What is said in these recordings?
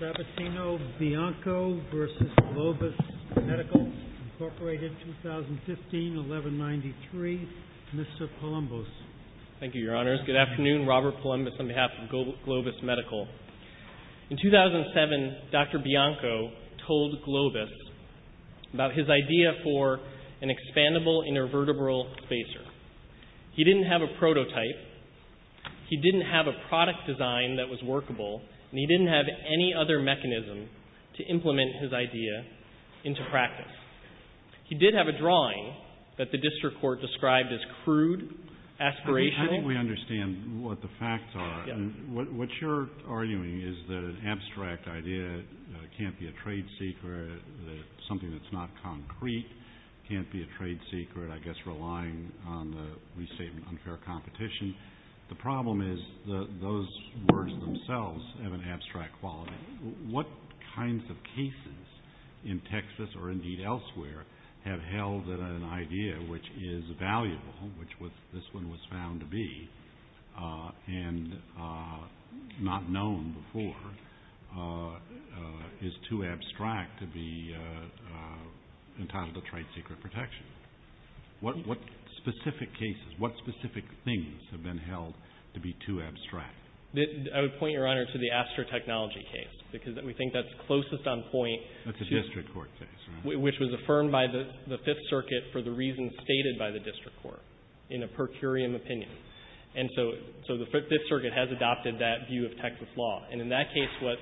Robertino Bianco v. Globus Medical, Inc., 2015-1193, Mr. Palumbos. Thank you, Your Honors. Good afternoon. Robert Palumbos on behalf of Globus Medical. In 2007, Dr. Bianco told Globus about his idea for an expandable intervertebral spacer. He didn't have a prototype. He didn't have a product design that was workable. And he didn't have any other mechanism to implement his idea into practice. He did have a drawing that the district court described as crude, aspirational. I think we understand what the facts are. What you're arguing is that an abstract idea can't be a trade secret, that something that's not concrete can't be a trade secret, I guess relying on the, we say, unfair competition. The problem is those words themselves have an abstract quality. What kinds of cases in Texas, or indeed elsewhere, have held that an idea which is valuable, which this one was found to be, and not known before, is too abstract to be entitled a trade secret protection? What specific cases, what specific things have been held to be too abstract? I would point, Your Honor, to the Astrotechnology case, because we think that's closest on point to... That's a district court case, right? Which was affirmed by the Fifth Circuit for the reasons stated by the district court, in a per curiam opinion. And so the Fifth Circuit has adopted that view of Texas law. And in that case, what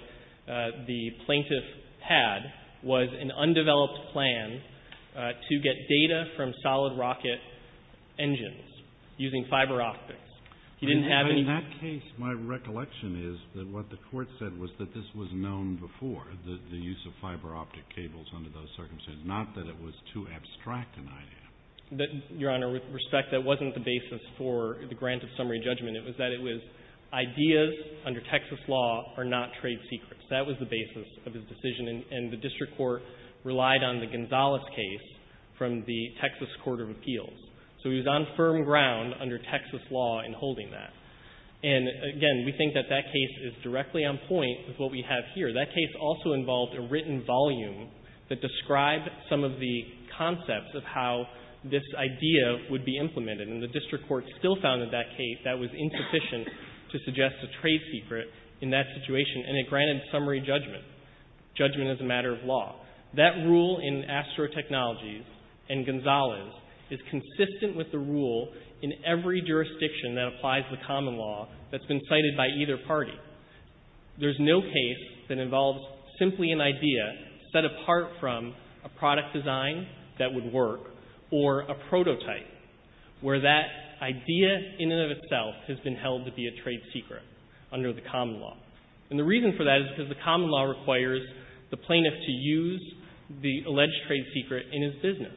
the plaintiff had was an undeveloped plan to get data from solid rocket engines using fiber optics. He didn't have any... In that case, my recollection is that what the court said was that this was known before, the use of fiber optic cables under those circumstances, not that it was too abstract an idea. Your Honor, with respect, that wasn't the basis for the grant of summary judgment. It was that it was ideas under Texas law are not trade secrets. That was the basis of his decision. And the district court relied on the Gonzalez case from the Texas Court of Appeals. So he was on firm ground under Texas law in holding that. And, again, we think that that case is directly on point with what we have here. That case also involved a written volume that described some of the concepts of how this idea would be implemented. And the district court still found in that case that was insufficient to suggest a trade secret in that situation. And it granted summary judgment, judgment as a matter of law. That rule in Astro Technologies and Gonzalez is consistent with the rule in every jurisdiction that applies the common law that's been cited by either party. There's no case that involves simply an idea set apart from a product design that would work or a prototype where that idea in and of itself has been held to be a trade secret under the common law. And the reason for that is because the common law requires the plaintiff to use the alleged trade secret in his business.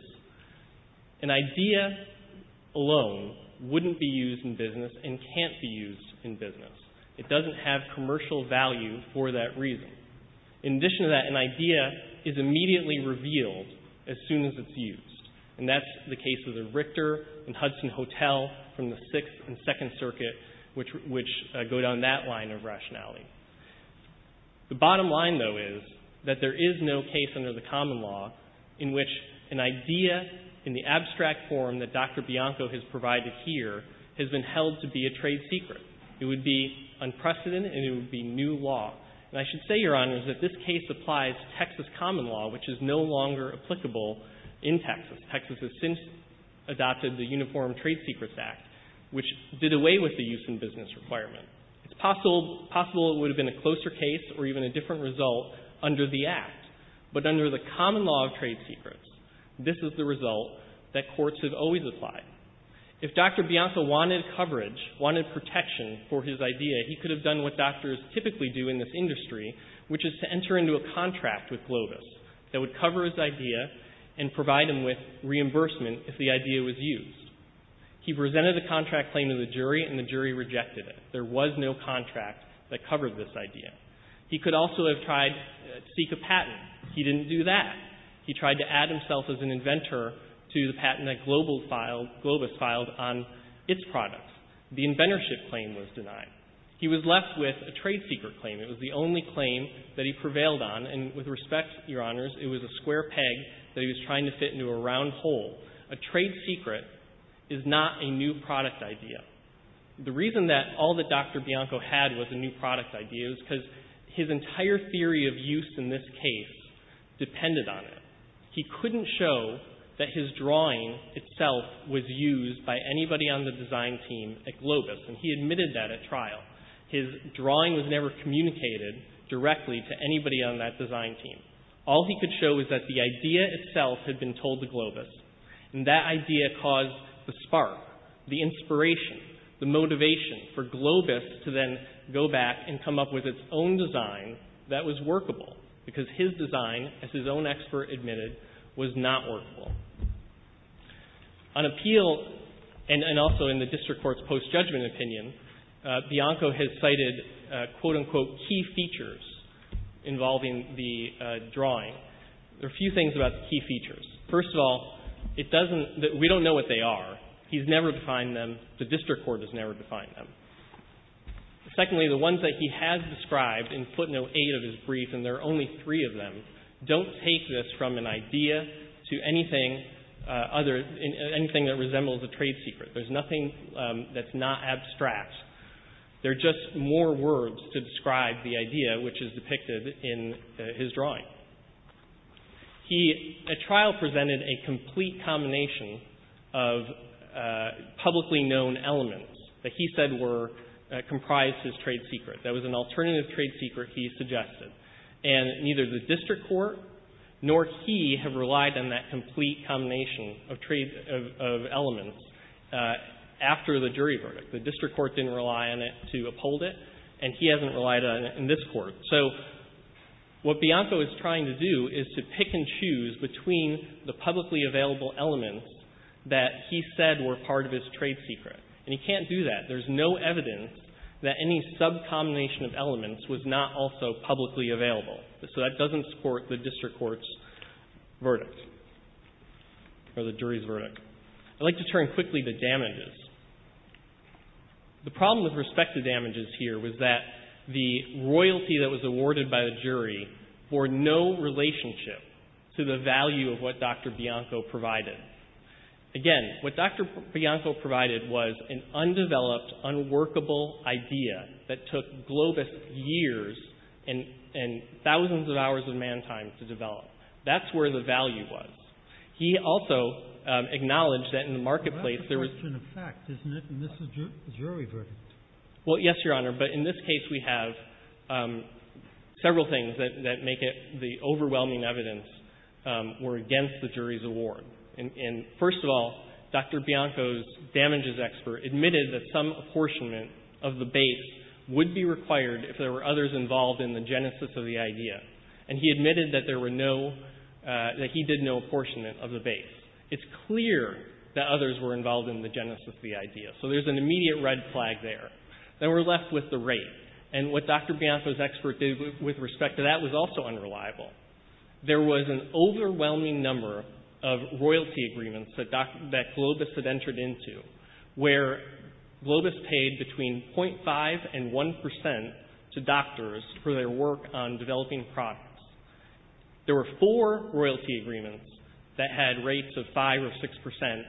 An idea alone wouldn't be used in business and can't be used in business. It doesn't have commercial value for that reason. In addition to that, an idea is immediately revealed as soon as it's used. And that's the case of the Richter and Hudson Hotel from the Sixth and Second Circuit, which go down that line of rationality. The bottom line, though, is that there is no case under the common law in which an idea in the abstract form that Dr. Bianco has provided here has been held to be a trade secret. It would be unprecedented and it would be new law. And I should say, Your Honors, that this case applies Texas common law, which is no longer applicable in Texas. Texas has since adopted the Uniform Trade Secrets Act, which did away with the use in business requirement. It's possible it would have been a closer case or even a different result under the Act. But under the common law of trade secrets, this is the result that courts have always applied. If Dr. Bianco wanted coverage, wanted protection for his idea, he could have done what doctors typically do in this industry, which is to enter into a contract with Lotus that would cover his idea and provide him with reimbursement if the idea was used. He presented a contract claim to the jury and the jury rejected it. There was no contract that covered this idea. He could also have tried to seek a patent. He didn't do that. He tried to add himself as an inventor to the patent that Global filed, Globus filed, on its products. The inventorship claim was denied. He was left with a trade secret claim. It was the only claim that he prevailed on, and with respect, Your Honors, it was a square peg that he was trying to fit into a round hole. A trade secret is not a new product idea. The reason that all that Dr. Bianco had was a new product idea is because his entire theory of use in this case depended on it. He couldn't show that his drawing itself was used by anybody on the design team at Globus, and he admitted that at trial. His drawing was never communicated directly to anybody on that design team. All he could show was that the idea itself had been told to Globus, and that idea caused the spark, the inspiration, the motivation for Globus to then go back and come up with its own design that was workable, because his design, as his own expert admitted, was not workable. On appeal, and also in the district court's post-judgment opinion, Bianco has cited, quote, unquote, key features involving the drawing. There are a few things about the key features. First of all, it doesn't — we don't know what they are. He's never defined them. The district court has never defined them. Secondly, the ones that he has described in footnote 8 of his brief, and there are only three of them, don't take this from an idea to anything other — anything that resembles a trade secret. There's nothing that's not abstract. They're just more words to describe the idea which is depicted in his drawing. He — a trial presented a complete combination of publicly known elements that he said were — comprised his trade secret. That was an alternative trade secret, he suggested. And neither the district court nor he have relied on that complete combination of elements after the jury verdict. The district court didn't rely on it to uphold it, and he hasn't relied on it in this court. So what Bianco is trying to do is to pick and choose between the publicly available elements that he said were part of his trade secret. And he can't do that. There's no evidence that any sub-combination of elements was not also publicly available. So that doesn't support the district court's verdict or the jury's verdict. I'd like to turn quickly to damages. The problem with respect to damages here was that the royalty that was awarded by the jury bore no relationship to the value of what Dr. Bianco provided. Again, what Dr. Bianco provided was an undeveloped, unworkable idea that took Globus years and thousands of hours of man time to develop. That's where the value was. He also acknowledged that in the marketplace there was — But that's just an effect, isn't it, in this jury verdict? Well, yes, Your Honor. But in this case we have several things that make it the overwhelming evidence were against the jury's award. And first of all, Dr. Bianco's damages expert admitted that some apportionment of the base would be required if there were others involved in the genesis of the idea. And he admitted that there were no — that he did no apportionment of the base. It's clear that others were involved in the genesis of the idea. So there's an immediate red flag there. Then we're left with the rate. And what Dr. Bianco's expert did with respect to that was also unreliable. There was an overwhelming number of royalty agreements that Globus had entered into where Globus paid between .5 and 1 percent to doctors for their work on developing products. There were four royalty agreements that had rates of 5 or 6 percent.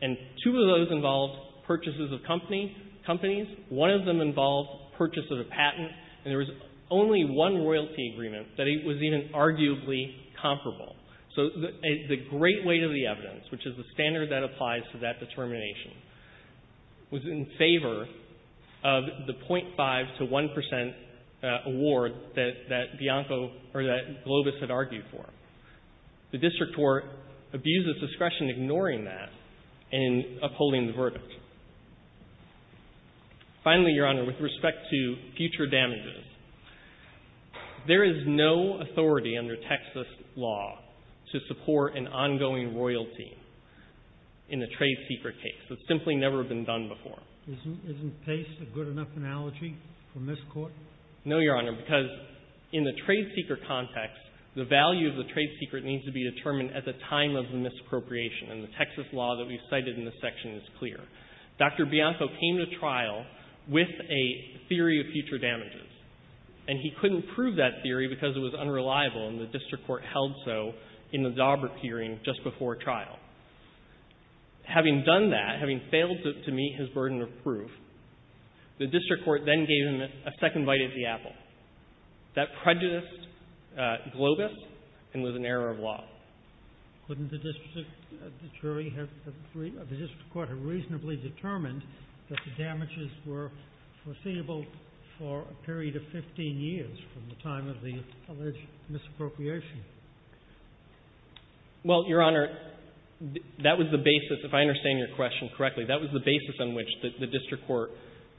And two of those involved purchases of companies. One of them involved purchase of a patent. And there was only one royalty agreement that was even arguably comparable. So the great weight of the evidence, which is the standard that applies to that determination, was in favor of the .5 to 1 percent award that — that Bianco or that Globus had argued for. The district court abused its discretion in ignoring that and in upholding the verdict. Finally, Your Honor, with respect to future damages, there is no authority under Texas law to support an ongoing royalty in a trade secret case. It's simply never been done before. Isn't — isn't Pace a good enough analogy from this Court? No, Your Honor, because in the trade secret context, the value of the trade secret needs to be determined at the time of the misappropriation. And the Texas law that we've cited in this section is clear. Dr. Bianco came to trial with a theory of future damages. And he couldn't prove that theory because it was unreliable, and the district court held so in the Daubert hearing just before trial. Having done that, having failed to meet his burden of proof, the district court then gave him a second bite at the apple. That prejudiced Globus and was an error of law. Couldn't the district jury have — the district court have reasonably determined that the damages were foreseeable for a period of 15 years from the time of the alleged misappropriation? Well, Your Honor, that was the basis — if I understand your question correctly, that was the basis on which the district court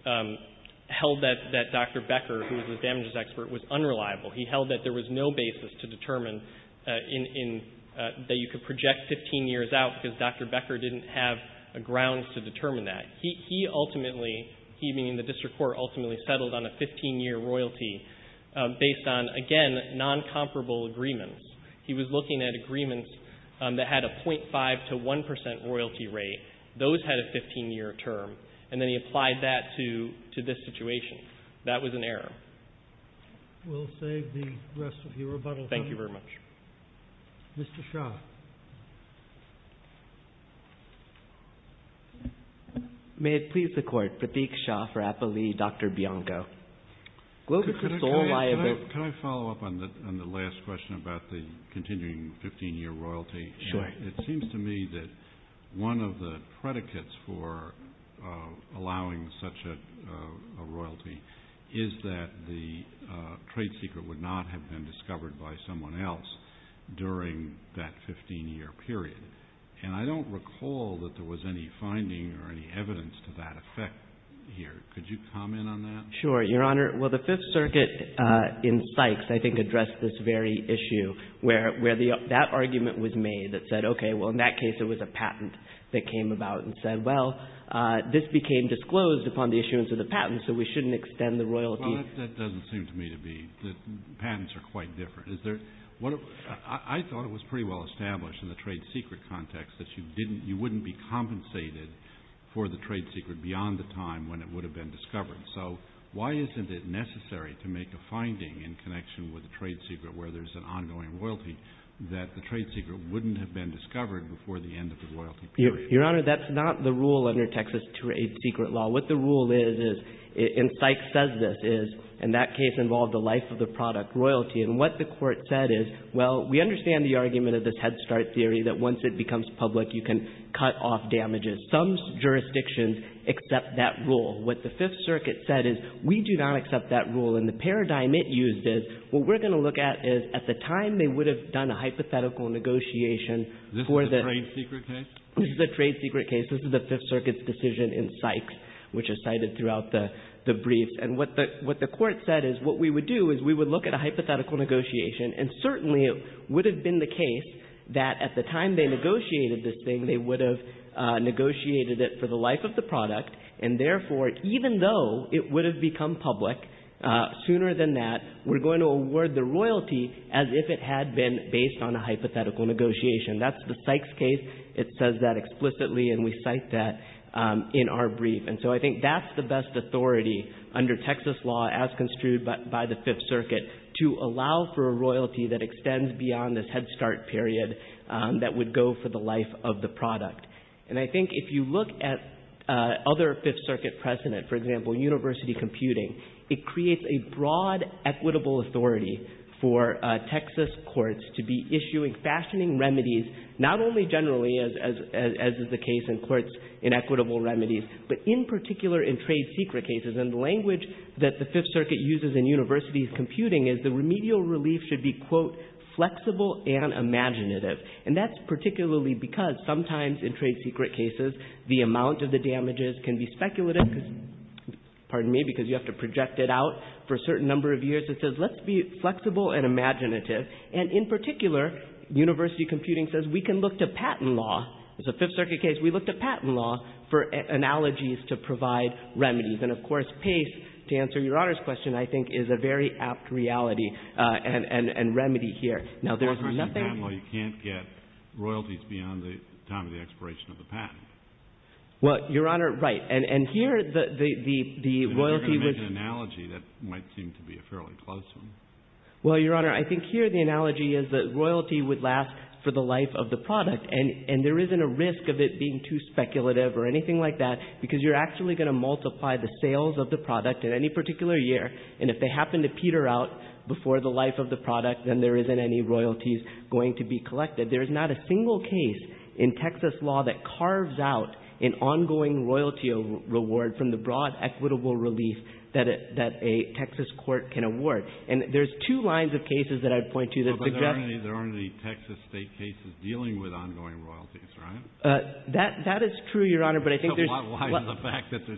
held that — that Dr. Becker, who was the damages expert, was unreliable. He held that there was no basis to determine in — that you could project 15 years out because Dr. Becker didn't have grounds to determine that. He ultimately — he, meaning the district court, ultimately settled on a 15-year royalty based on, again, noncomparable agreements. He was looking at agreements that had a 0.5 to 1 percent royalty rate. Those had a 15-year term. And then he applied that to — to this situation. That was an error. We'll save the rest of your rebuttal time. Thank you very much. Mr. Shah. May it please the Court, Pratik Shah for Applee v. Dr. Bianco. Globus is sole liable — Could I follow up on the last question about the continuing 15-year royalty? It seems to me that one of the predicates for allowing such a royalty is that the trade secret would not have been discovered by someone else during that 15-year period. And I don't recall that there was any finding or any evidence to that effect here. Could you comment on that? Sure, Your Honor. Well, the Fifth Circuit in Sykes, I think, addressed this very issue where — where that argument was made that said, okay, well, in that case it was a patent that came about and said, well, this became disclosed upon the issuance of the patent, so we shouldn't extend the royalty. Well, that doesn't seem to me to be — the patents are quite different. Is there — I thought it was pretty well established in the trade secret context that you didn't — you wouldn't be compensated for the trade secret beyond the time when it would have been discovered. So why isn't it necessary to make a finding in connection with the trade secret where there's an ongoing royalty that the trade secret wouldn't have been discovered before the end of the royalty period? Your Honor, that's not the rule under Texas Trade Secret Law. What the rule is, and Sykes says this, is in that case involved the life of the product, royalty. And what the Court said is, well, we understand the argument of this head start theory that once it becomes public, you can cut off damages. Some jurisdictions accept that rule. What the Fifth Circuit said is, we do not accept that rule. And the paradigm it used is, what we're going to look at is, at the time they would have done a hypothetical negotiation for the — Is this a trade secret case? This is a trade secret case. This is the Fifth Circuit's decision in Sykes, which is cited throughout the briefs. And what the Court said is, what we would do is we would look at a hypothetical negotiation, and certainly it would have been the case that at the time they negotiated this thing, they would have negotiated it for the life of the product, and therefore, even though it would have become public sooner than that, we're going to award the royalty as if it had been based on a hypothetical negotiation. That's the Sykes case. It says that explicitly, and we cite that in our brief. And so I think that's the best authority under Texas law, as construed by the Fifth Circuit, to allow for a royalty that extends beyond this head start period that would go for the life of the product. And I think if you look at other Fifth Circuit precedent, for example, university computing, it creates a broad equitable authority for Texas courts to be issuing fashioning remedies, not only generally, as is the case in courts in equitable remedies, but in particular in trade secret cases. And the language that the Fifth Circuit uses in university computing is the remedial relief should be, quote, flexible and imaginative. And that's particularly because sometimes in trade secret cases, the amount of the damages can be speculative, because you have to project it out for a certain number of years. It says let's be flexible and imaginative. And in particular, university computing says we can look to patent law. It's a Fifth Circuit case. We looked at patent law for analogies to provide remedies. And of course, PACE, to answer your Honor's question, I think is a very apt reality and remedy here. Now, there's nothing. Well, you can't get royalties beyond the time of the expiration of the patent. Well, Your Honor, right. And here the royalty was. You're going to make an analogy that might seem to be a fairly close one. Well, Your Honor, I think here the analogy is that royalty would last for the life of the product. And there isn't a risk of it being too speculative or anything like that, because you're actually going to multiply the sales of the product in any particular year. And if they happen to peter out before the life of the product, then there isn't any royalties going to be collected. There is not a single case in Texas law that carves out an ongoing royalty reward from the broad equitable relief that a Texas court can award. And there's two lines of cases that I'd point to that suggest that. But there aren't any Texas state cases dealing with ongoing royalties, right? That is true, Your Honor, but I think there's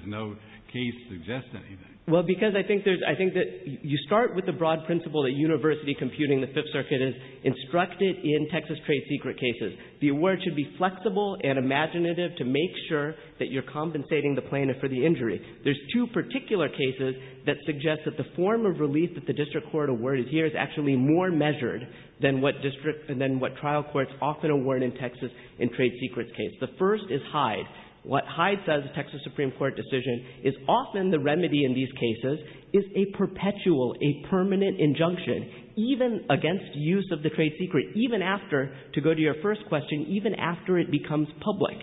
no case that suggests anything. Well, because I think there's – I think that you start with the broad principle that university computing, the Fifth Circuit has instructed in Texas trade secret cases. The award should be flexible and imaginative to make sure that you're compensating the plaintiff for the injury. There's two particular cases that suggest that the form of relief that the district court awarded here is actually more measured than what district – than what trial courts often award in Texas in trade secrets case. The first is Hyde. What Hyde says, the Texas Supreme Court decision, is often the remedy in these cases is a perpetual, a permanent injunction, even against use of the trade secret, even after – to go to your first question – even after it becomes public.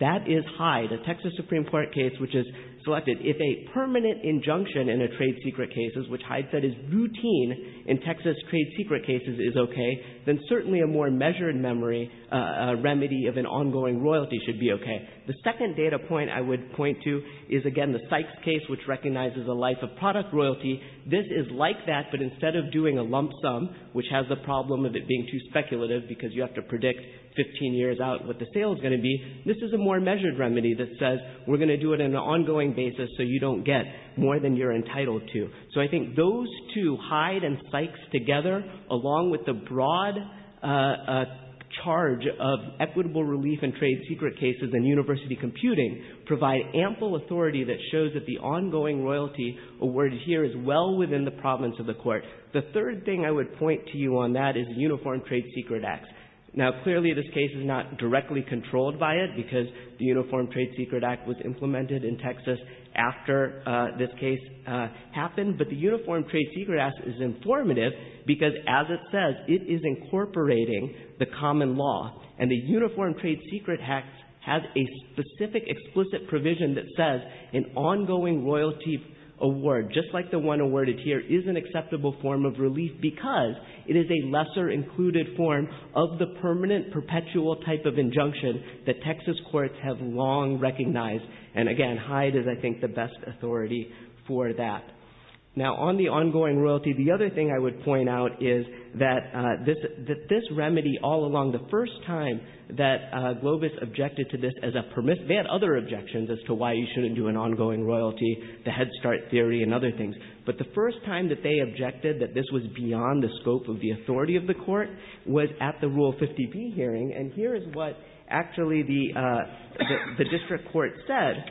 That is Hyde, a Texas Supreme Court case which is selected. If a permanent injunction in a trade secret case, which Hyde said is routine in Texas trade secret cases, is okay, then certainly a more measured memory, a remedy of an ongoing royalty should be okay. The second data point I would point to is, again, the Sykes case, which recognizes a life of product royalty. This is like that, but instead of doing a lump sum, which has the problem of it being too speculative because you have to predict 15 years out what the sale is going to be, this is a more measured remedy that says we're going to do it on an ongoing basis so you don't get more than you're entitled to. So I think those two, Hyde and Sykes together, along with the broad charge of equitable relief in trade secret cases and university computing, provide ample authority that shows that the ongoing royalty awarded here is well within the province of the Court. The third thing I would point to you on that is the Uniform Trade Secret Act. Now, clearly this case is not directly controlled by it because the Uniform Trade Secret Act was implemented in Texas after this case happened. But the Uniform Trade Secret Act is informative because, as it says, it is incorporating the common law. And the Uniform Trade Secret Act has a specific explicit provision that says an ongoing royalty award, just like the one awarded here, is an acceptable form of relief because it is a lesser included form of the permanent perpetual type of injunction that Texas courts have long recognized. And, again, Hyde is, I think, the best authority for that. Now, on the ongoing royalty, the other thing I would point out is that this remedy all along, the first time that Globus objected to this as a permissive – they had other objections as to why you shouldn't do an ongoing royalty, the Head Start theory and other things. But the first time that they objected that this was beyond the scope of the authority of the Court was at the Rule 50b hearing. And here is what actually the district court said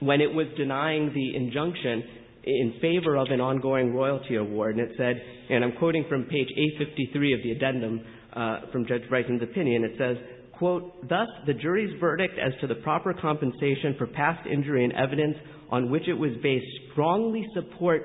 when it was denying the injunction in favor of an ongoing royalty award. And it said, and I'm quoting from page 853 of the addendum from Judge Bison's opinion, it says, quote, thus, the jury's verdict as to the proper compensation for past injury and evidence on which it was based strongly supports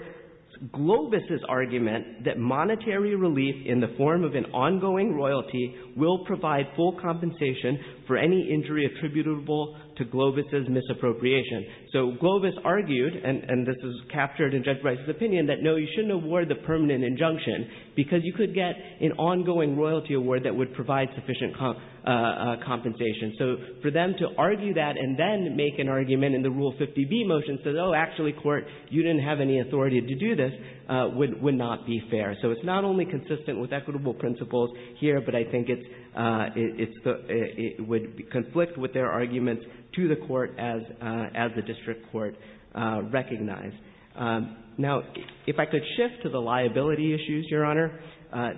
Globus's argument that monetary relief in the form of an ongoing royalty will provide full compensation for any injury attributable to Globus's misappropriation. So Globus argued, and this is captured in Judge Bison's opinion, that no, you shouldn't award the permanent injunction because you could get an ongoing royalty award that would provide sufficient compensation. So for them to argue that and then make an argument in the Rule 50b motion, says, oh, actually, Court, you didn't have any authority to do this, would not be fair. So it's not only consistent with equitable principles here, but I think it would conflict with their arguments to the Court as the district court recognized. Now, if I could shift to the liability issues, Your Honor,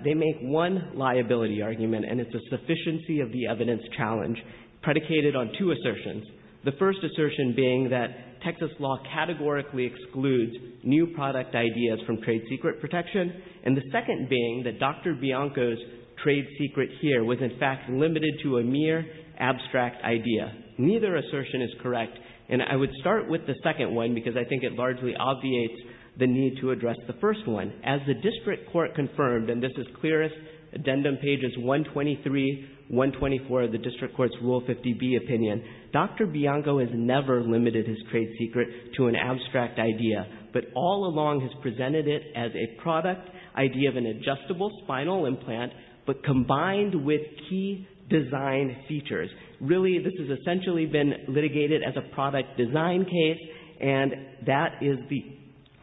they make one liability argument, and it's a sufficiency of the evidence challenge predicated on two assertions. The first assertion being that Texas law categorically excludes new product ideas from trade secret protection. And the second being that Dr. Bianco's trade secret here was, in fact, limited to a mere abstract idea. Neither assertion is correct. And I would start with the second one because I think it largely obviates the need to address the first one. As the district court confirmed, and this is clearest, addendum pages 123, 124 of the district court's Rule 50b opinion, Dr. Bianco has never limited his trade secret to an abstract idea, but all along has presented it as a product idea of an adjustable spinal implant, but combined with key design features. Really, this has essentially been litigated as a product design case, and that is the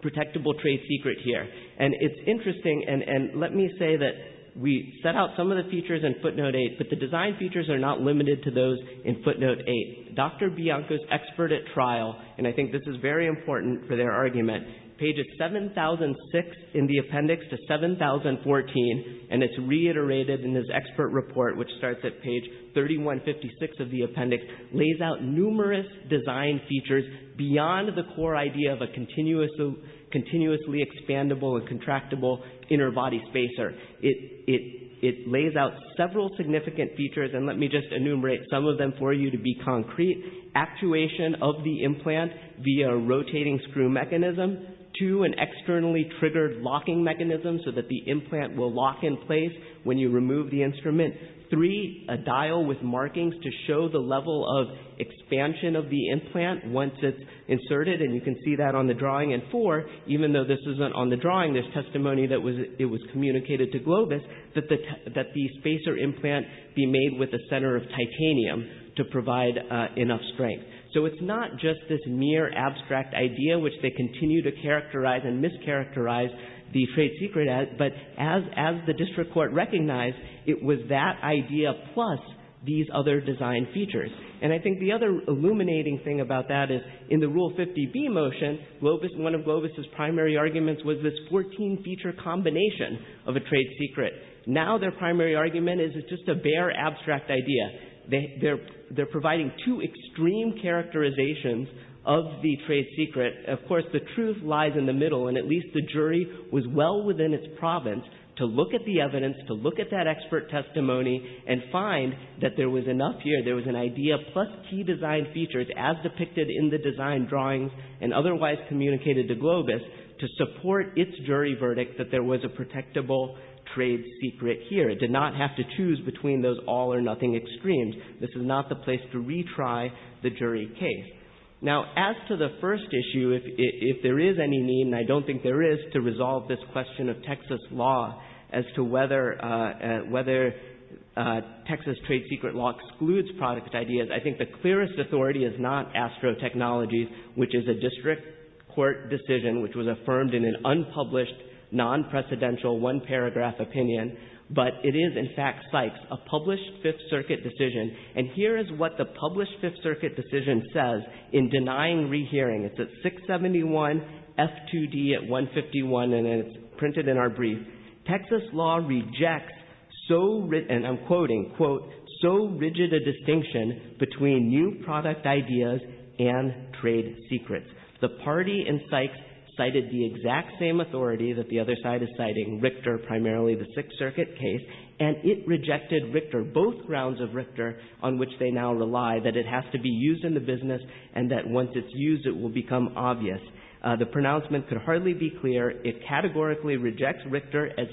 protectable trade secret here. And it's interesting, and let me say that we set out some of the features in footnote 8, but the design features are not limited to those in footnote 8. Dr. Bianco's expert at trial, and I think this is very important for their argument, pages 7006 in the appendix to 7014, and it's reiterated in his expert report, which starts at page 3156 of the appendix, lays out numerous design features beyond the core idea of a continuously expandable and contractible inner body spacer. It lays out several significant features, and let me just enumerate some of them for you to be concrete. Actuation of the implant via a rotating screw mechanism to an externally triggered locking mechanism so that the implant will lock in place when you remove the instrument. Three, a dial with markings to show the level of expansion of the implant once it's inserted, and you can see that on the drawing. And four, even though this isn't on the drawing, there's testimony that it was communicated to Globus that the spacer implant be made with a center of titanium to provide enough strength. So it's not just this mere abstract idea, which they continue to characterize and mischaracterize the trade secret as, but as the district court recognized, it was that idea plus these other design features. And I think the other illuminating thing about that is in the Rule 50B motion, one of Globus' primary arguments was this 14-feature combination of a trade secret. Now their primary argument is it's just a bare abstract idea. They're providing two extreme characterizations of the trade secret. Of course, the truth lies in the middle, and at least the jury was well within its province to look at the evidence, to look at that expert testimony, and find that there was enough here. There was an idea plus key design features as depicted in the design drawings and otherwise communicated to Globus to support its jury verdict that there was a protectable trade secret here. It did not have to choose between those all or nothing extremes. This is not the place to retry the jury case. Now as to the first issue, if there is any need, and I don't think there is, to resolve this question of Texas law as to whether Texas trade secret law excludes product ideas, I think the clearest authority is not ASTRO Technologies, which is a district court decision which was affirmed in an unpublished, non-precedential, one-paragraph opinion, but it is in fact Sykes, a published Fifth Circuit decision. And here is what the published Fifth Circuit decision says in denying rehearing. It's at 671, F2D at 151, and it's printed in our brief. Texas law rejects so, and I'm quoting, quote, so rigid a distinction between new product ideas and trade secrets. The party in Sykes cited the exact same authority that the other side is citing, Richter, primarily the Sixth Circuit case, and it rejected Richter, both grounds of Richter, on which they now rely, that it has to be used in the business and that once it's used, it will become obvious. The pronouncement could hardly be clearer. It categorically rejects Richter as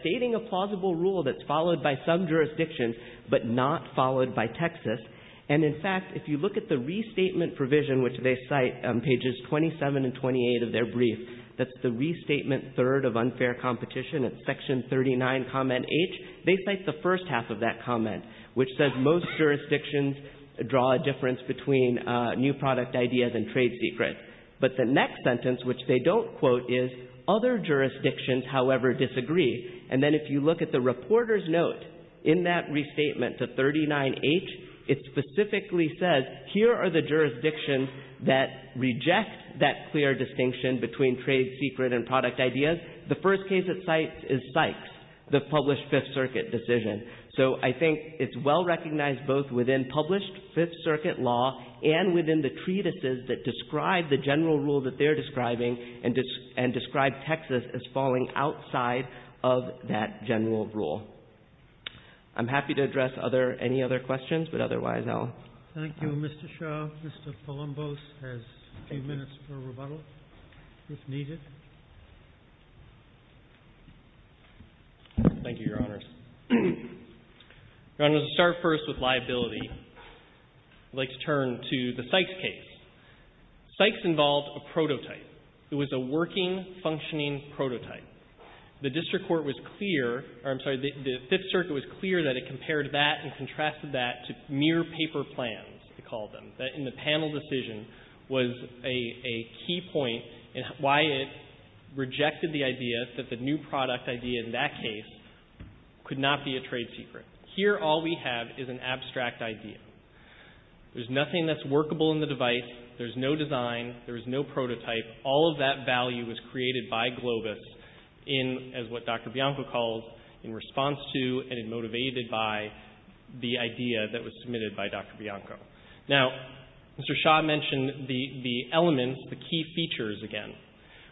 stating a plausible rule that's followed by some jurisdictions but not followed by Texas. And in fact, if you look at the restatement provision, which they cite on pages 27 and 28 of their brief, that's the restatement third of unfair competition. It's section 39, comment H. They cite the first half of that comment, which says most jurisdictions draw a difference between new product ideas and trade secrets. But the next sentence, which they don't quote, is, other jurisdictions, however, disagree. And then if you look at the reporter's note in that restatement to 39H, it specifically says, here are the jurisdictions that reject that clear distinction between trade secret and product ideas. The first case it cites is Sykes, the published Fifth Circuit decision. So I think it's well recognized both within published Fifth Circuit law and within the treatises that describe the general rule that they're describing and describe Texas as falling outside of that general rule. I'm happy to address any other questions, but otherwise I'll stop. Thank you, Mr. Shaw. Mr. Palumbos has a few minutes for rebuttal, if needed. Thank you, Your Honors. Your Honors, to start first with liability, I'd like to turn to the Sykes case. Sykes involved a prototype. It was a working, functioning prototype. The district court was clear, or I'm sorry, the Fifth Circuit was clear that it compared that and contrasted that to mere paper plans, they called them, that in the panel decision was a key point in why it rejected the idea that the new product idea in that case could not be a trade secret. Here all we have is an abstract idea. There's nothing that's workable in the device. There's no design. There's no prototype. All of that value was created by Globus in, as what Dr. Bianco calls, in response to and motivated by the idea that was submitted by Dr. Bianco. Now, Mr. Shaw mentioned the elements, the key features again.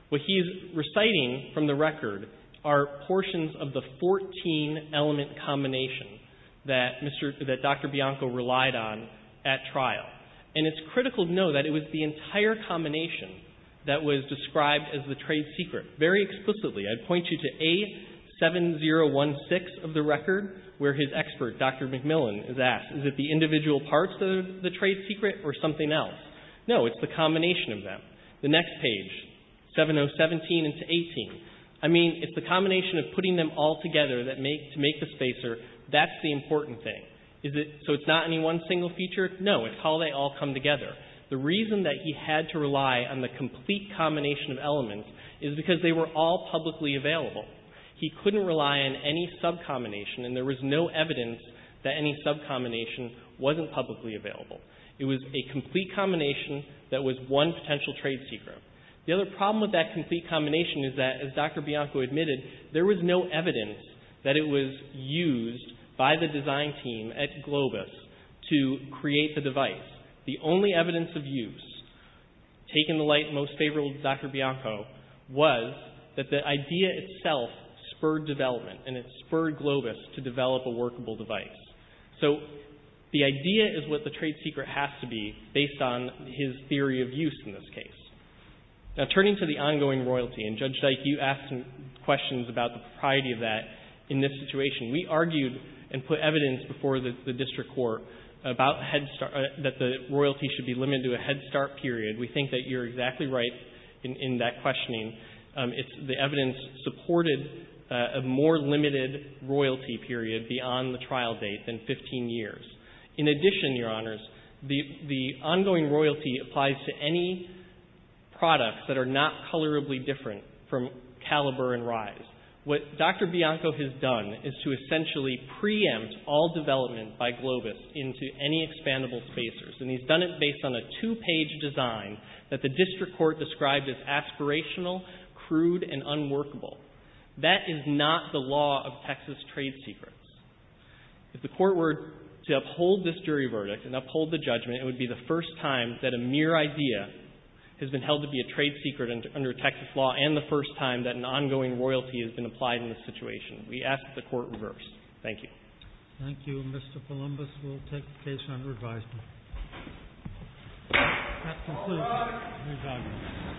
What he's reciting from the record are portions of the 14 element combination that Dr. Bianco relied on at trial. And it's critical to know that it was the entire combination that was described as the trade secret. Very explicitly, I'd point you to A7016 of the record where his expert, Dr. McMillan, is asked, is it the individual parts of the trade secret or something else? No, it's the combination of them. The next page, 7017 into 18. I mean, it's the combination of putting them all together to make the spacer. That's the important thing. So it's not any one single feature? No, it's how they all come together. The reason that he had to rely on the complete combination of elements is because they were all publicly available. He couldn't rely on any sub-combination, and there was no evidence that any sub-combination wasn't publicly available. It was a complete combination that was one potential trade secret. The other problem with that complete combination is that, as Dr. Bianco admitted, there was no evidence that it was used by the design team at Globus to create the device. The only evidence of use, taking the light most favorable to Dr. Bianco, was that the idea itself spurred development, and it spurred Globus to develop a workable device. So the idea is what the trade secret has to be based on his theory of use in this case. Now, turning to the ongoing royalty, and, Judge Dyke, you asked some questions about the propriety of that in this situation. We argued and put evidence before the district court about head start, that the royalty should be limited to a head start period. We think that you're exactly right in that questioning. The evidence supported a more limited royalty period beyond the trial date than 15 years. In addition, Your Honors, the ongoing royalty applies to any products that are not colorably different from Caliber and Rise. What Dr. Bianco has done is to essentially preempt all development by Globus into any expandable spacers, and he's done it based on a two-page design that the district court described as aspirational, crude, and unworkable. That is not the law of Texas trade secrets. If the Court were to uphold this jury verdict and uphold the judgment, it would be the first time that a mere idea has been held to be a trade secret under Texas law and the first time that an ongoing royalty has been applied in this situation. We ask that the Court reverse. Thank you. Thank you. Mr. Columbus will take the case under advisement. That concludes my rebuttal.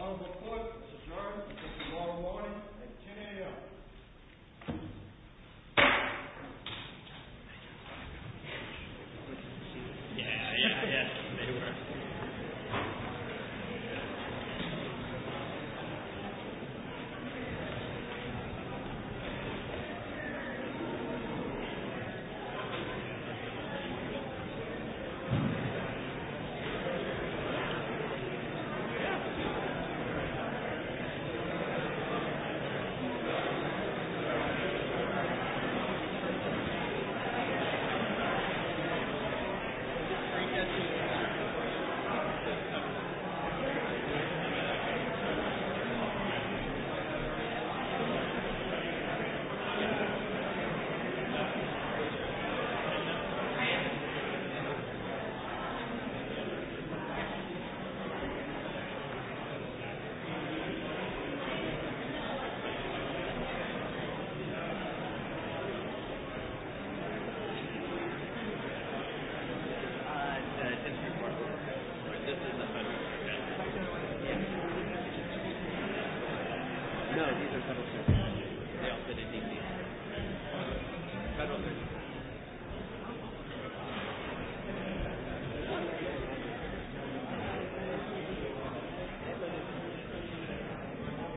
Honorable Court, it's adjourned until tomorrow morning at 10 a.m. Thank you. Thank you. Thank you.